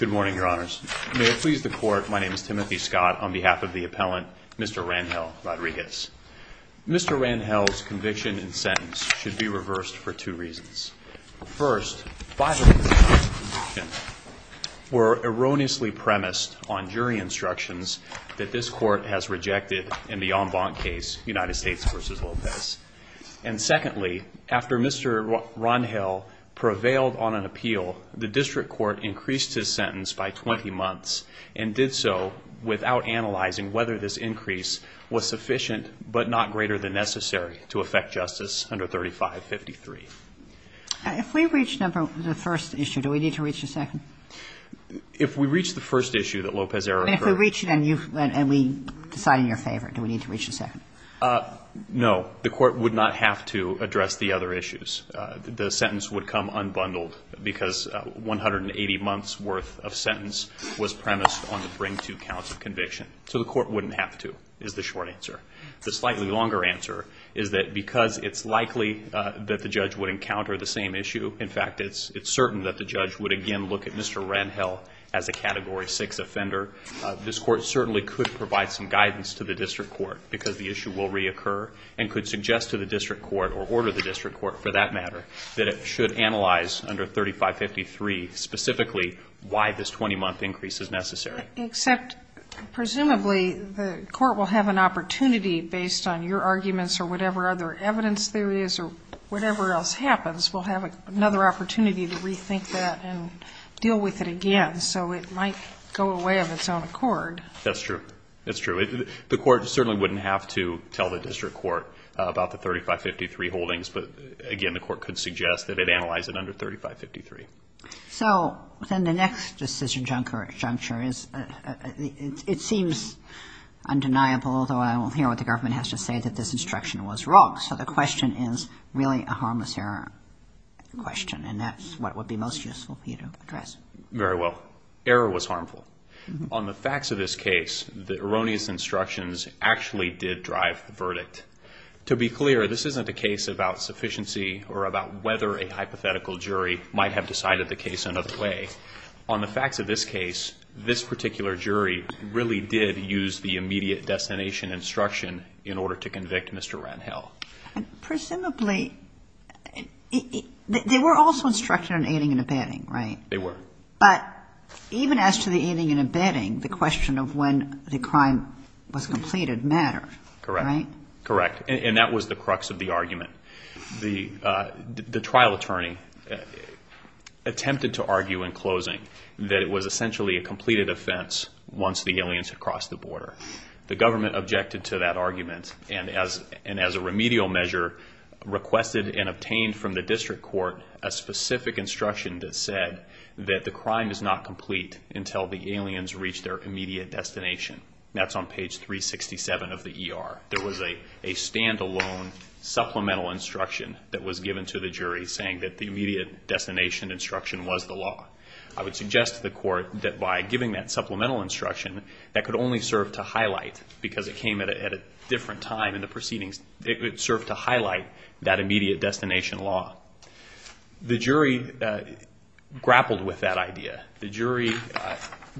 Good morning, your honors. May it please the court, my name is Timothy Scott. On behalf of the appellant, Mr. Rangel-Rodriguez. Mr. Rangel's conviction and sentence should be reversed for two reasons. First, by the way, we're erroneously premised on jury instructions that this court has rejected in the En Blanc case, United States v. Lopez. And secondly, after Mr. Rangel prevailed on an appeal, the district court increased his sentence by 20 months and did so without analyzing whether this increase was sufficient but not greater than necessary to affect justice under 3553. If we reach number the first issue, do we need to reach it and you, and we decide in your favor, do we need to reach the second? No. The court would not have to address the other issues. The sentence would come unbundled because 180 months' worth of sentence was premised on the bring-to counts of conviction. So the court wouldn't have to, is the short answer. The slightly longer answer is that because it's likely that the judge would encounter the same issue, in fact, it's certain that the judge would again look at Mr. Rangel as a Category 6 offender. This court certainly could provide some guidance to the district court because the issue will reoccur and could suggest to the district court or order the district court, for that matter, that it should analyze under 3553 specifically why this 20-month increase is necessary. Except presumably the court will have an opportunity, based on your arguments or whatever other evidence there is or whatever else happens, will have another opportunity to rethink that and deal with it again. So it might go away of its own accord. That's true. That's true. The court certainly wouldn't have to tell the district court about the 3553 holdings, but again, the court could suggest that it analyze it under 3553. So then the next decision juncture is, it seems undeniable, although I will hear what the government has to say, that this instruction was wrong. So the question is really a harmless error question, and that's what would be most useful for you to address. Very well. Error was harmful. On the facts of this case, the erroneous instructions actually did drive the verdict. To be clear, this isn't a case about sufficiency or about whether a hypothetical jury might have decided the case another way. On the facts of this case, this particular jury really did use the immediate destination instruction in order to convict Mr. Rangel. Presumably, they were also instructed on aiding and abetting, right? They were. But even as to the aiding and abetting, the question of when the crime was completed mattered, right? Correct. Correct. And that was the crux of the argument. The trial attorney attempted to argue in closing that it was essentially a completed offense once the aliens had crossed the border. The government objected to that argument, and as a remedial measure, requested and obtained from the district court a specific instruction that said that the crime is not complete until the aliens reach their immediate destination. That's on page 367 of the ER. There was a stand-alone supplemental instruction that was given to the jury saying that the immediate destination instruction was the law. I would suggest to the court that by because it came at a different time in the proceedings, it served to highlight that immediate destination law. The jury grappled with that idea. The jury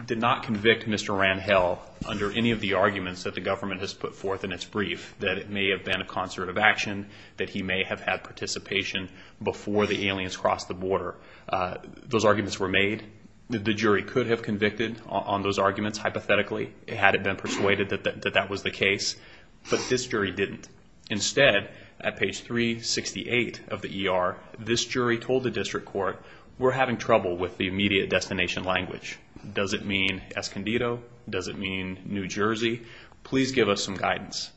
did not convict Mr. Rangel under any of the arguments that the government has put forth in its brief, that it may have been a concert of action, that he may have had participation before the aliens crossed the border. Those arguments were made. The jury could have convicted on those arguments, hypothetically, had it been persuaded that that was the case, but this jury didn't. Instead, at page 368 of the ER, this jury told the district court, we're having trouble with the immediate destination language. Does it mean Escondido? Does it mean New Jersey? Please give us some guidance.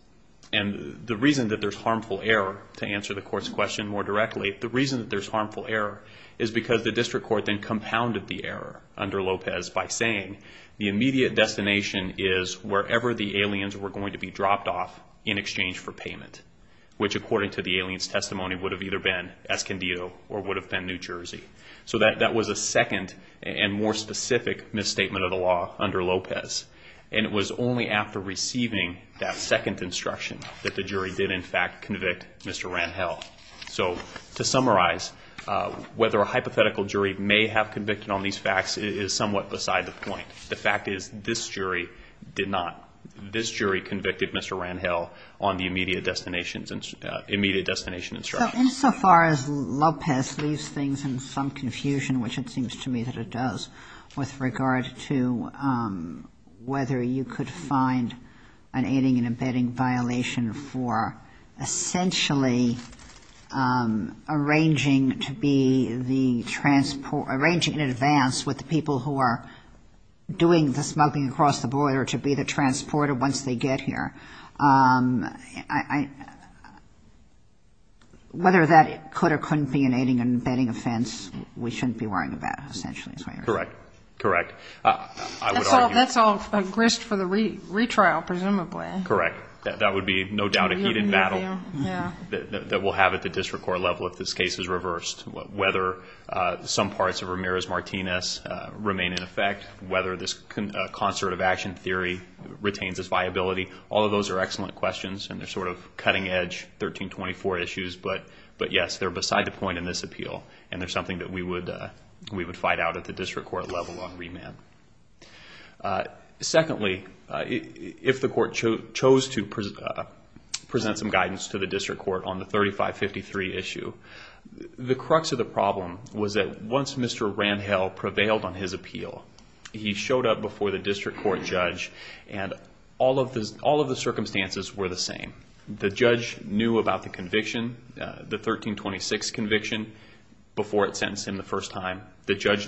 The reason that there's harmful error, to answer the court's question more directly, the reason that there's harmful error is because the district court then compounded the error under Lopez by saying the immediate destination is wherever the aliens were going to be dropped off in exchange for payment, which according to the alien's testimony would have either been Escondido or would have been New Jersey. That was a second and more specific misstatement of the law under Lopez. It was only after receiving that second instruction that the jury did, in fact, convict Mr. Rangel. So to summarize, whether a hypothetical jury may have convicted on these facts is somewhat beside the point. The fact is this jury did not. This jury convicted Mr. Rangel on the immediate destination instruction. So insofar as Lopez leaves things in some confusion, which it seems to me that it does, with regard to whether you could find an aiding and abetting violation for essentially arranging to be the transport, arranging in advance with the people who are doing the smuggling across the border to be the transporter once they get here, I, whether that could or couldn't be an aiding and abetting offense, we shouldn't be worrying about, essentially. Correct. Correct. That's all grist for the retrial, presumably. Correct. That would be no doubt a heated battle. Yeah. That we'll have at the district court level if this case is reversed, whether some parts of Ramirez-Martinez remain in effect, whether this concert of action theory retains its viability. All of those are excellent questions, and they're sort of cutting edge 1324 issues, but yes, they're beside the point in this appeal, and they're something that we would Secondly, if the court chose to present some guidance to the district court on the 3553 issue, the crux of the problem was that once Mr. Randhell prevailed on his appeal, he showed up before the district court judge, and all of the circumstances were the same. The judge knew about the conviction, the 1326 conviction, before it sentenced him the first time. The judge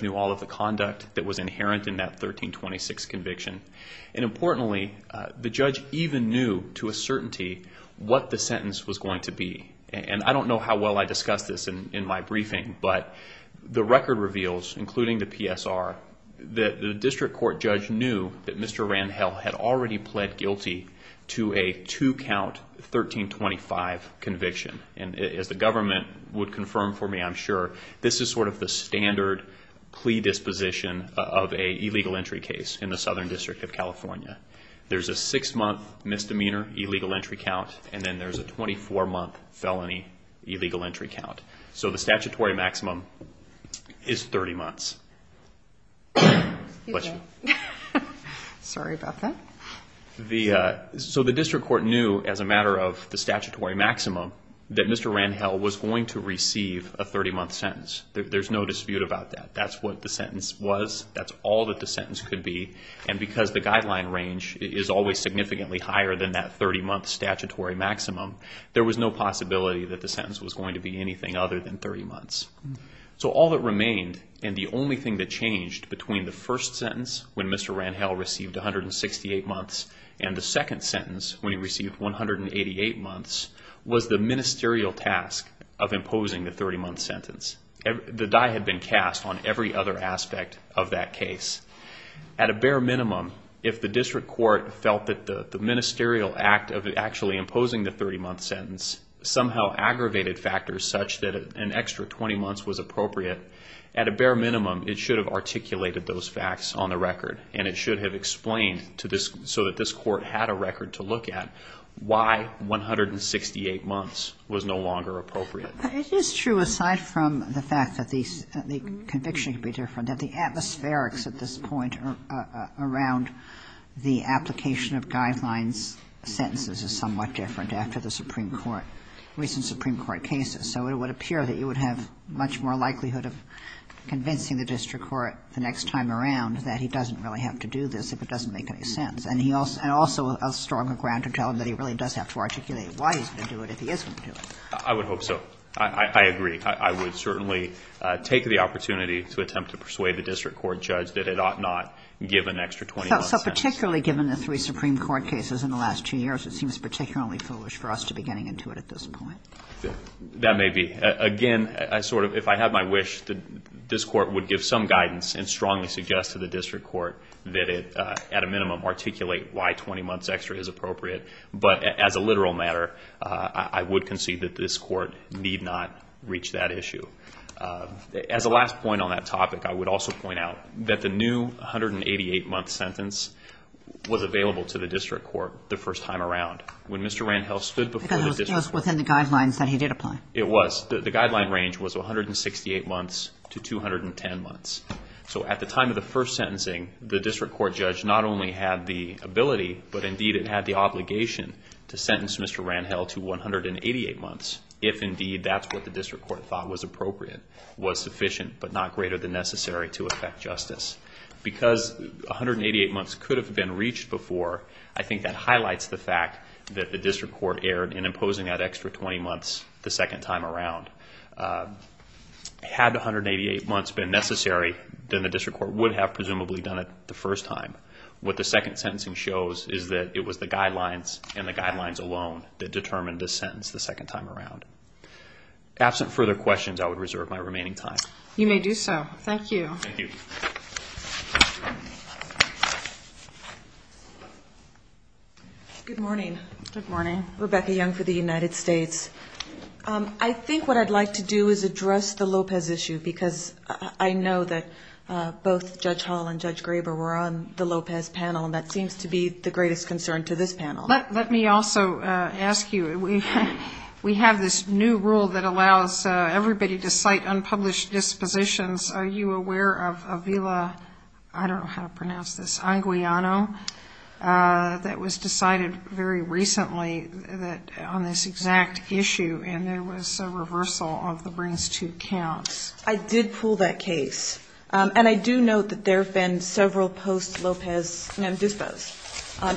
even knew to a certainty what the sentence was going to be, and I don't know how well I discussed this in my briefing, but the record reveals, including the PSR, that the district court judge knew that Mr. Randhell had already pled guilty to a two-count 1325 conviction, and as the government would confirm for me, I'm sure, this is sort of the standard plea disposition of an illegal entry case in the Southern District of California. There's a six-month misdemeanor illegal entry count, and then there's a 24-month felony illegal entry count. So the statutory maximum is 30 months. The district court knew, as a matter of the statutory maximum, that Mr. Randhell was going to receive a 30-month sentence. There's no dispute about that. That's what the sentence was. That's all that the sentence could be, and because the guideline range is always significantly higher than that 30-month statutory maximum, there was no possibility that the sentence was going to be anything other than 30 months. So all that remained, and the only thing that changed between the first sentence, when Mr. Randhell received 168 months, and the second sentence, when he received 188 months, was the ministerial task of imposing the 30-month sentence. The die had been cast on every other aspect of that case. At a bare minimum, if the district court felt that the ministerial act of actually imposing the 30-month sentence somehow aggravated factors such that an extra 20 months was appropriate, at a bare minimum, it should have articulated those facts on the record, and it should have explained to this, so that this court had a record to look at, why 168 months was no longer appropriate. It is true, aside from the fact that the conviction could be different, that the atmospherics at this point around the application of guidelines, sentences, is somewhat different after the Supreme Court, recent Supreme Court cases. So it would appear that you would have much more likelihood of convincing the district court the next time around that he doesn't really have to do this if it doesn't make any sense, and also a stronger ground to tell him that he really does have to articulate why he's going to do it if he isn't going to do it. I would hope so. I agree. I would certainly take the opportunity to attempt to persuade the district court judge that it ought not give an extra 20-month sentence. So particularly given the three Supreme Court cases in the last two years, it seems particularly foolish for us to be getting into it at this point. That may be. Again, I sort of, if I had my wish, this court would give some guidance and strongly suggest to the district court that it, at a minimum, articulate why 20 months extra is appropriate. But as a literal matter, I would concede that this court need not reach that issue. As a last point on that topic, I would also point out that the new 188-month sentence was available to the district court the first time around. When Mr. Randhell stood before the district court... Because it was within the guidelines that he did apply. It was. The guideline range was 168 months to 210 months. So at the time of the first sentencing, the district court judge not only had the ability, but indeed it had the obligation to sentence Mr. Randhell to 188 months, if indeed that's what the district court thought was appropriate, was sufficient but not greater than necessary to effect justice. Because 188 months could have been reached before, I think that highlights the fact that the district court erred in imposing that extra 20 months the second time around. Had the 188 months been necessary, then the district court would have presumably done it the first time. What the second sentencing shows is that it was the guidelines and the guidelines alone that determined the sentence the second time around. Absent further questions, I would reserve my remaining time. You may do so. Thank you. Good morning. Good morning. Rebecca Young for the United States. I think what I'd like to do is address the Lopez issue because I know that both Judge Hall and Judge Graber were on the Lopez panel, and that seems to be the greatest concern to this panel. Let me also ask you, we have this new rule that allows everybody to cite unpublished dispositions. Are you aware of Avila, I don't know how to pronounce this, Aguilano, that was decided very recently on this exact issue, and there was a reversal of the brings-to counts? I did pull that case. And I do note that there have been several post-Lopez nondispos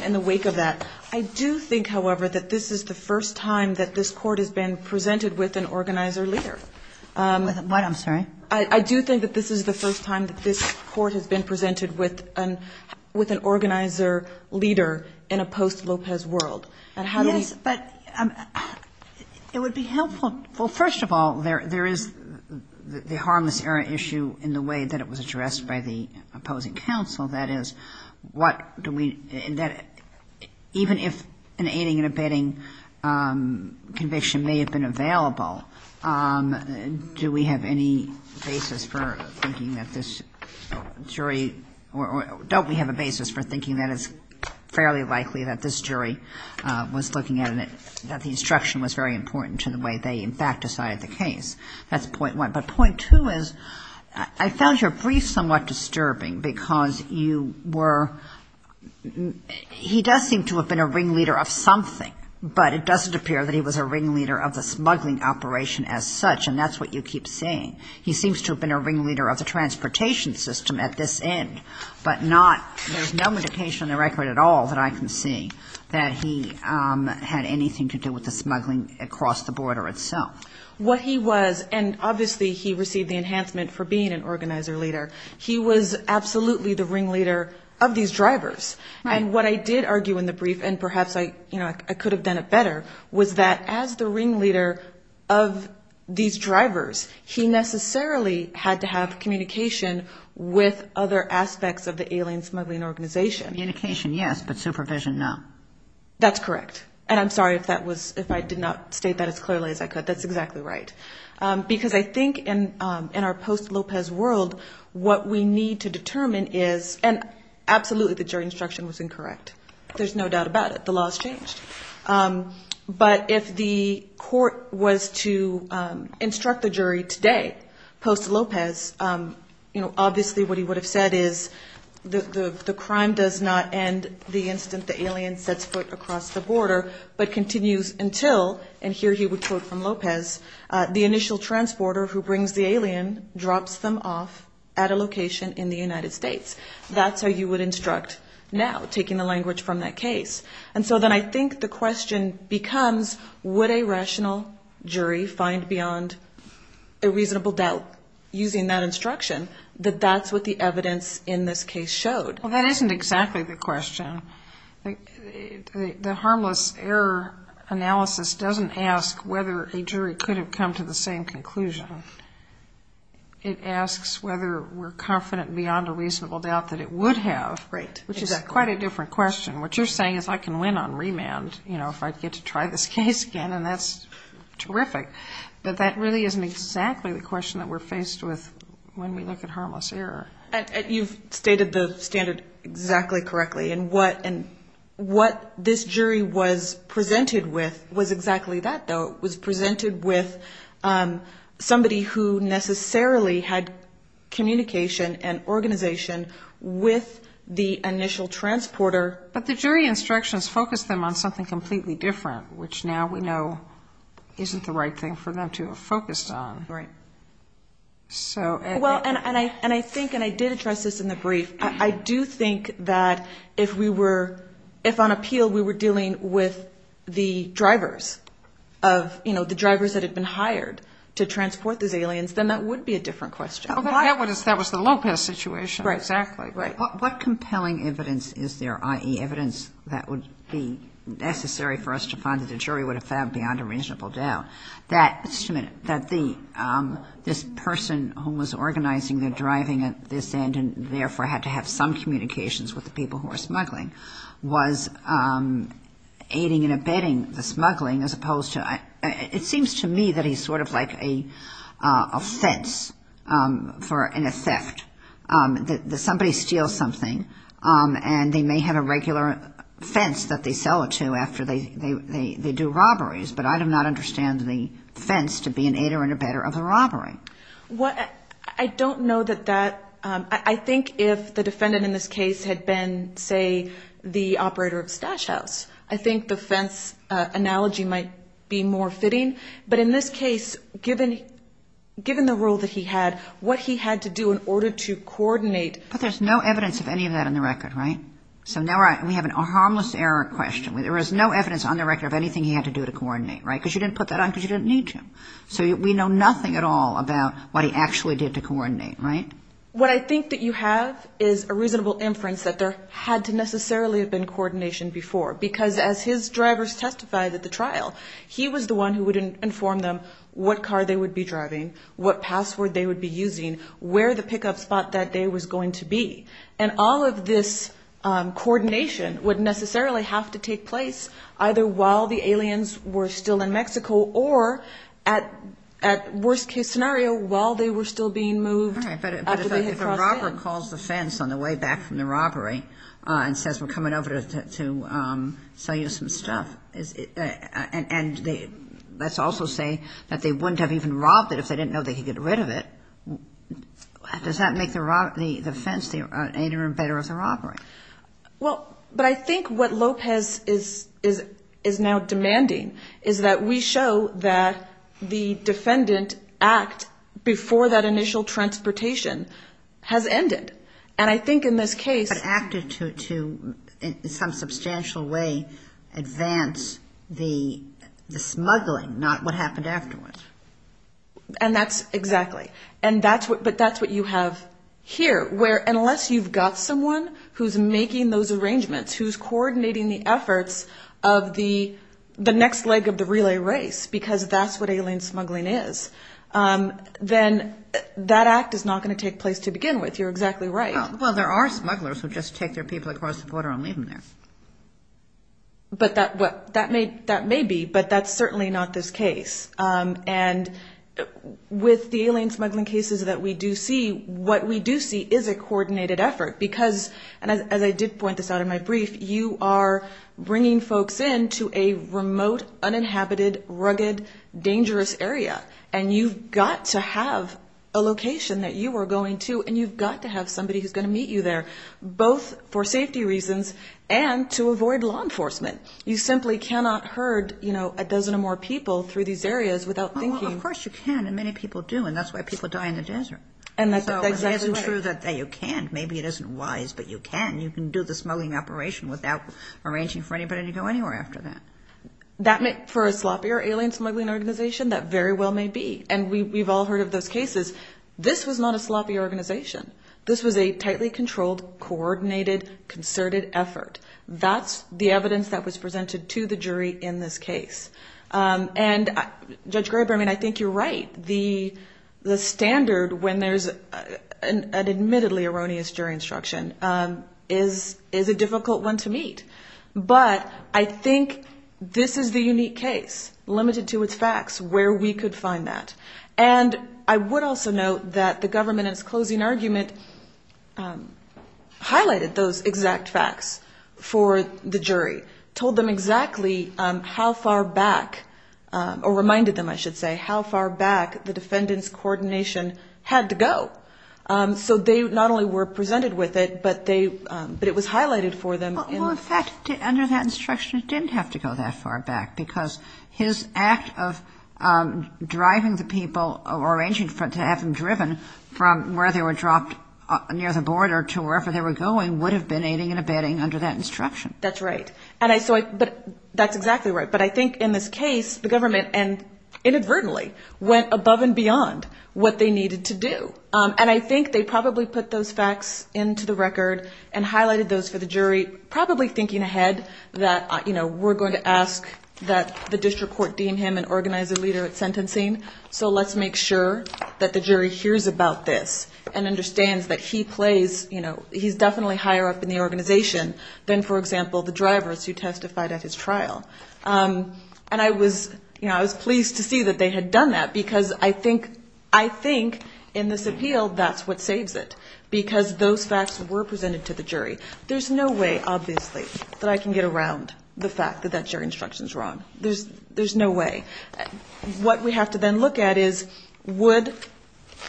in the wake of that. I do think, however, that this is the first time that this court has been presented with an organizer-leader. What? I'm sorry? I do think that this is the first time that this court has been presented with an organizer-leader in a post-Lopez world. And how do we — Yes, but it would be helpful — well, first of all, there is the harmless error issue in the way that it was addressed by the opposing counsel. That is, what do we — even if an aiding and abetting conviction may have been available, do we have any basis for thinking that this jury — or don't we have a basis for thinking that it's fairly likely that this jury was looking at it, that the instruction was very important to the way they, in fact, decided the case? That's point one. But point two is, I found your brief somewhat disturbing, because you were — he does seem to have been a ringleader of something, but it doesn't appear that he was a ringleader of the smuggling operation as such, and that's what you keep saying. He seems to have been a ringleader of the transportation system at this end, but not — there's no indication on the record at all that I can see that he had anything to do with the smuggling across the border itself. What he was — and obviously he received the enhancement for being an organizer-leader — he was absolutely the ringleader of these drivers. Right. And what I did argue in the brief, and perhaps I could have done it better, was that as the ringleader of these drivers, he necessarily had to have communication with other aspects of the alien smuggling organization. Communication, yes, but supervision, no. That's correct. And I'm sorry if I did not state that as clearly as I could. That's what we need to determine is — and absolutely the jury instruction was incorrect. There's no doubt about it. The law has changed. But if the court was to instruct the jury today, post-Lopez, you know, obviously what he would have said is the crime does not end the instant the alien sets foot across the border, but continues until — and here he would quote from Lopez — the initial transporter who brings the alien drops them off at a location in the United States. That's how you would instruct now, taking the language from that case. And so then I think the question becomes, would a rational jury find beyond a reasonable doubt, using that instruction, that that's what the evidence in this case showed? Well, that isn't exactly the question. The harmless error analysis doesn't ask whether a jury could have come to the same conclusion. It asks whether we're confident beyond a reasonable doubt that it would have. Right. Exactly. Which is quite a different question. What you're saying is I can win on remand, you know, if I get to try this case again, and that's terrific. But that really isn't exactly the question that we're faced with when we look at harmless error. You've stated the standard exactly correctly. And what this jury was presented with was exactly that, though. It was presented with somebody who necessarily had communication and organization with the initial transporter. But the jury instructions focused them on something completely different, which now we know isn't the right thing for them to have focused on. Right. So — Well, and I think — and I did address this in the brief. I do think that if we were — if on appeal we were dealing with the drivers of — you know, the drivers that had been hired to transport these aliens, then that would be a different question. Well, that was the Lopez situation. Right. Exactly. Right. What compelling evidence is there, i.e., evidence that would be necessary for us to find that the jury would have found beyond a reasonable doubt that — just a minute — that this person who was organizing the driving at this end and therefore had to have some communications with the people who were smuggling was aiding and abetting the smuggling as opposed to — it seems to me that he's sort of like a fence for — in a theft. That somebody steals something, and they may have a regular fence that they sell it to after they do robberies, but I do not understand the fence to be an aider and abetter of a robbery. Well, I don't know that that — I think if the defendant in this case had been, say, the operator of Stash House, I think the fence analogy might be more fitting. But in this case, given the role that he had, what he had to do in order to coordinate — But there's no evidence of any of that on the record, right? So now we have a harmless error question. There is no evidence on the record of anything he had to do to coordinate, right? Because you didn't put that on because you didn't need to. So we know nothing at all about what he actually did to coordinate, right? What I think that you have is a reasonable inference that there had to necessarily have been coordination before, because as his drivers testified at the trial, he was the one who would inform them what car they would be driving, what password they would be using, where the pickup spot that day was going to be. And all of this coordination would necessarily have to take place either while the aliens were still in Mexico or, at worst-case scenario, while they were still being moved. All right. But if a robber calls the fence on the way back from the robbery and says, we're coming over to sell you some stuff, and let's also say that they wouldn't have even robbed it if they didn't know they could get rid of it, does that make the fence any better of the robbery? Well, but I think what Lopez is now demanding is that we show that the defendant act before that initial transportation has ended. And I think in this case – But acted to, in some substantial way, advance the smuggling, not what happened afterwards. And that's – exactly. But that's what you have here, where unless you've got someone who's making those arrangements, who's coordinating the efforts of the next leg of the relay race, because that's what alien smuggling is, then that act is not going to take place to begin with. You're exactly right. Well, there are smugglers who just take their people across the border and leave them there. That may be, but that's certainly not this case. And with the alien smuggling cases that we do see, what we do see is a coordinated effort, because – and as I did point this out in my brief, you are bringing folks in to a remote, uninhabited, rugged, dangerous area, and you've got to have a location that you are going to, and you've got to have somebody who's going to meet you there, both for safety reasons and to avoid law enforcement. You simply cannot herd a dozen or more people through these areas without thinking – Well, of course you can, and many people do, and that's why people die in the desert. And that's exactly right. So it isn't true that you can't. Maybe it isn't wise, but you can. You can do the smuggling operation without arranging for anybody to go anywhere after that. For a sloppier alien smuggling organization, that very well may be. And we've all heard of those cases. This was not a sloppy organization. This was a tightly controlled, coordinated, concerted effort. That's the evidence that was presented to the jury in this case. And Judge Graber, I mean, I think you're right. The standard when there's an admittedly erroneous jury instruction is a difficult one to meet. But I think this is the unique case, limited to its facts, where we could find that. And I would also note that the government, in its closing argument, highlighted those exact facts for the jury, told them exactly how far back – or reminded them, I should say – how far back the defendant's coordination had to go. So they not only were presented with it, but it was highlighted for them. Well, in fact, under that instruction, it didn't have to go that far back, because his act of driving the people or arranging to have them driven from where they were dropped near the border to wherever they were going would have been aiding and abetting under that instruction. That's right. But that's exactly right. But I think in this case, the government, inadvertently, went above and beyond what they needed to do. And I think they probably put those facts into the record and highlighted those for the jury, probably thinking ahead that we're going to ask that the district court deem him an organizer leader at sentencing, so let's make sure that the jury hears about this and understands that he plays – he's definitely higher up in the organization than, for example, the drivers who testified at his trial. And I was pleased to see that they had done that, because I think in this appeal, that's what saves it, because those facts were presented to the jury. There's no way, obviously, that I can get around the fact that that jury instruction is wrong. There's no way. What we have to then look at is would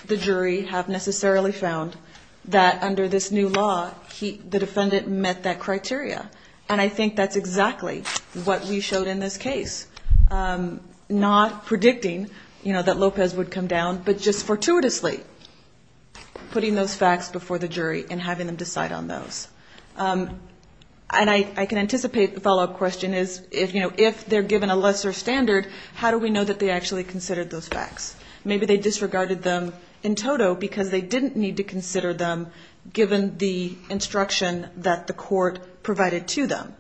the jury have necessarily found that under this new law the defendant met that criteria? And I think that's exactly what we showed in this case, not predicting that Lopez would come down, but just fortuitously putting those facts before the jury and having them decide on those. And I can anticipate the follow-up question is if they're given a lesser standard, how do we know that they actually considered those facts? Maybe they disregarded them in toto because they didn't need to consider them given the instruction that the court provided to them.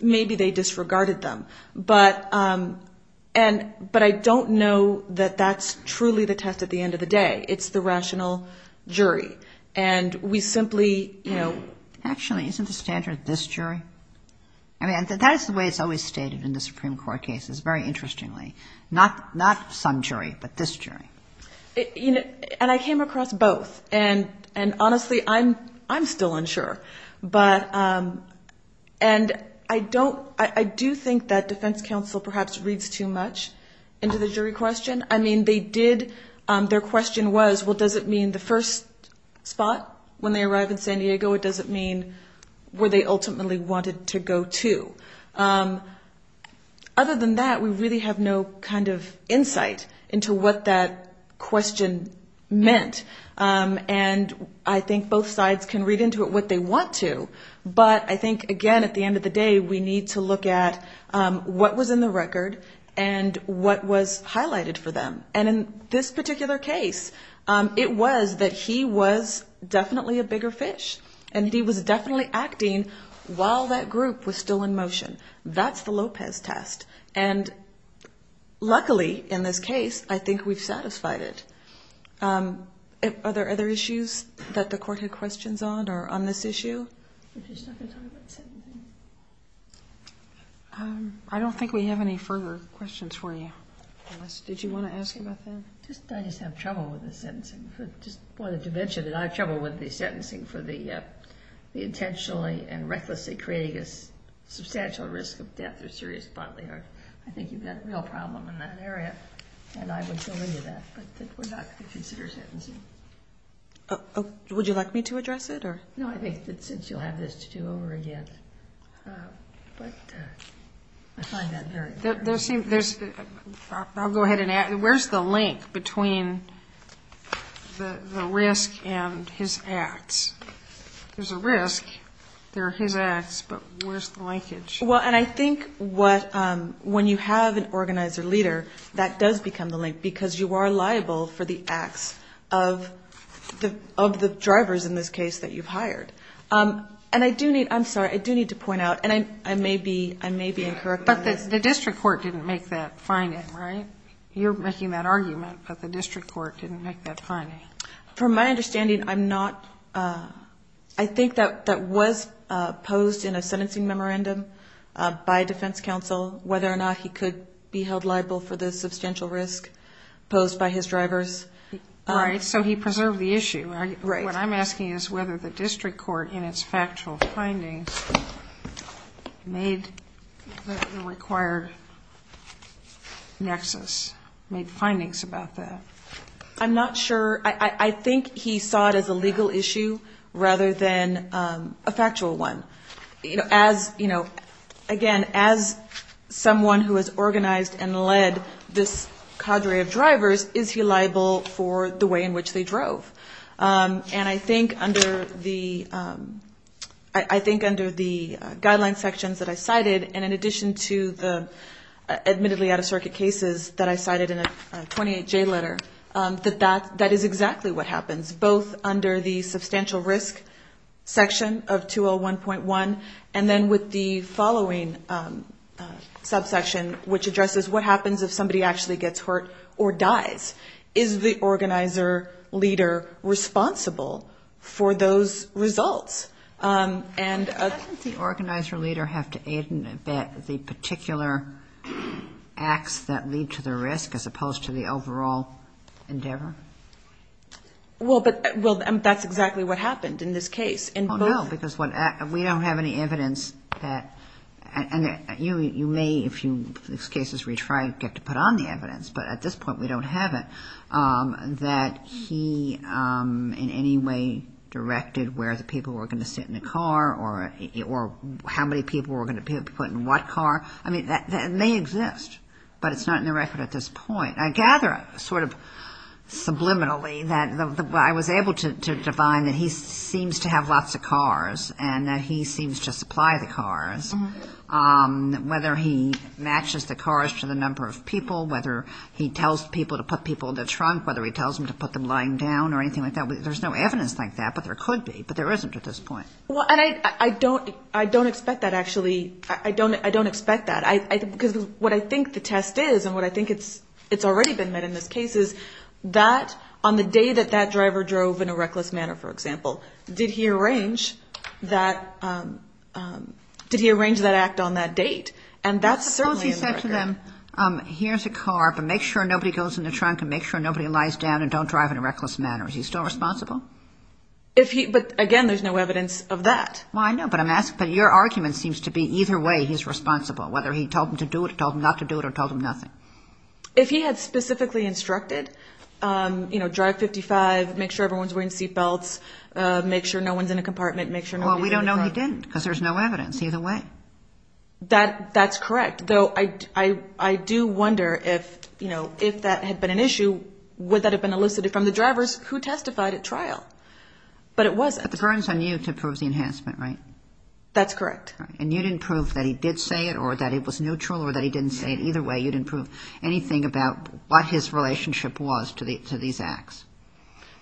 Maybe they disregarded them. But I don't know that that's truly the test at the end of the day. It's the rational jury. And we simply – Actually, isn't the standard this jury? I mean, that is the way it's always stated in the Supreme Court cases, very interestingly. Not some jury, but this jury. And I came across both. And honestly, I'm still unsure. But – and I don't – I do think that defense counsel perhaps reads too much into the jury question. I mean, they did – their question was, well, does it mean the first spot when they arrive in San Diego? It doesn't mean where they ultimately wanted to go to. Other than that, we really have no kind of insight into what that question meant. And I think both sides can read into it what they want to. But I think, again, at the end of the day, we need to look at what was in the record and what was highlighted for them. And in this particular case, it was that he was definitely a bigger fish. And he was definitely acting while that group was still in motion. That's the Lopez test. And luckily in this case, I think we've satisfied it. Are there other issues that the court had questions on or on this issue? I'm just not going to talk about sentencing. I don't think we have any further questions for you, Alice. Did you want to ask about that? I just have trouble with the sentencing. I just wanted to mention that I have trouble with the sentencing for the intentionally and recklessly creating a substantial risk of death or serious bodily harm. I think you've got a real problem in that area. And I would go into that. But we're not going to consider sentencing. Would you like me to address it? No, I think that since you'll have this to do over again. But I find that very clear. I'll go ahead and ask. Where's the link between the risk and his acts? There's a risk. There are his acts. But where's the linkage? Well, and I think when you have an organizer leader, that does become the link, because you are liable for the acts of the drivers in this case that you've hired. And I do need to point out, and I may be incorrect on this. But the district court didn't make that finding, right? You're making that argument, but the district court didn't make that finding. From my understanding, I'm not. I think that was posed in a sentencing memorandum by defense counsel, whether or not he could be held liable for the substantial risk posed by his drivers. All right, so he preserved the issue. Right. What I'm asking is whether the district court, in its factual findings, made the required nexus, made findings about that. I'm not sure. I think he saw it as a legal issue rather than a factual one. Again, as someone who has organized and led this cadre of drivers, is he liable for the way in which they drove? And I think under the guideline sections that I cited, and in addition to the admittedly out-of-circuit cases that I cited in a 28J letter, that that is exactly what happens, both under the substantial risk section of 201.1, and then with the following subsection, which addresses what happens if somebody actually gets hurt or dies. Is the organizer leader responsible for those results? Doesn't the organizer leader have to aid in the particular acts that lead to the risk, as opposed to the overall endeavor? Well, but that's exactly what happened in this case. Oh, no, because we don't have any evidence that you may, if in these cases we try to get to put on the evidence, but at this point we don't have it, that he in any way directed where the people were going to sit in the car or how many people were going to be put in what car. I mean, that may exist, but it's not in the record at this point. I gather sort of subliminally that I was able to define that he seems to have lots of cars and that he seems to supply the cars, whether he matches the cars to the number of people, whether he tells people to put people in the trunk, whether he tells them to put them lying down or anything like that. There's no evidence like that, but there could be, but there isn't at this point. Well, and I don't expect that, actually. I don't expect that. Because what I think the test is and what I think it's already been met in this case is that on the day that that driver drove in a reckless manner, for example, did he arrange that act on that date? And that's certainly in the record. Suppose he said to them, here's a car, but make sure nobody goes in the trunk and make sure nobody lies down and don't drive in a reckless manner. Is he still responsible? But, again, there's no evidence of that. Well, I know, but I'm asking, but your argument seems to be either way he's responsible, whether he told them to do it or told them not to do it or told them nothing. If he had specifically instructed, you know, drive 55, make sure everyone's wearing seat belts, make sure no one's in a compartment, make sure nobody's in the car. Well, we don't know he didn't because there's no evidence either way. That's correct. Though I do wonder if, you know, if that had been an issue, would that have been elicited from the drivers who testified at trial? But it wasn't. But the burden's on you to prove the enhancement, right? That's correct. And you didn't prove that he did say it or that it was neutral or that he didn't say it. Either way, you didn't prove anything about what his relationship was to these acts.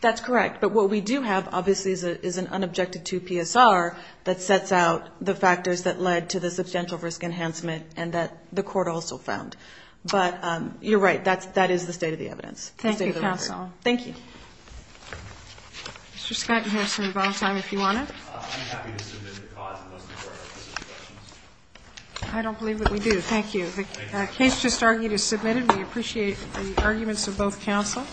That's correct. But what we do have, obviously, is an unobjected two PSR that sets out the factors that led to the substantial risk enhancement and that the court also found. But you're right. That is the state of the evidence. Thank you, counsel. Thank you. Mr. Scott, you can have some rebuttal time if you want to. I'm happy to submit the cause unless the court has any questions. I don't believe that we do. Thank you. The case just argued is submitted. We appreciate the arguments of both counsel.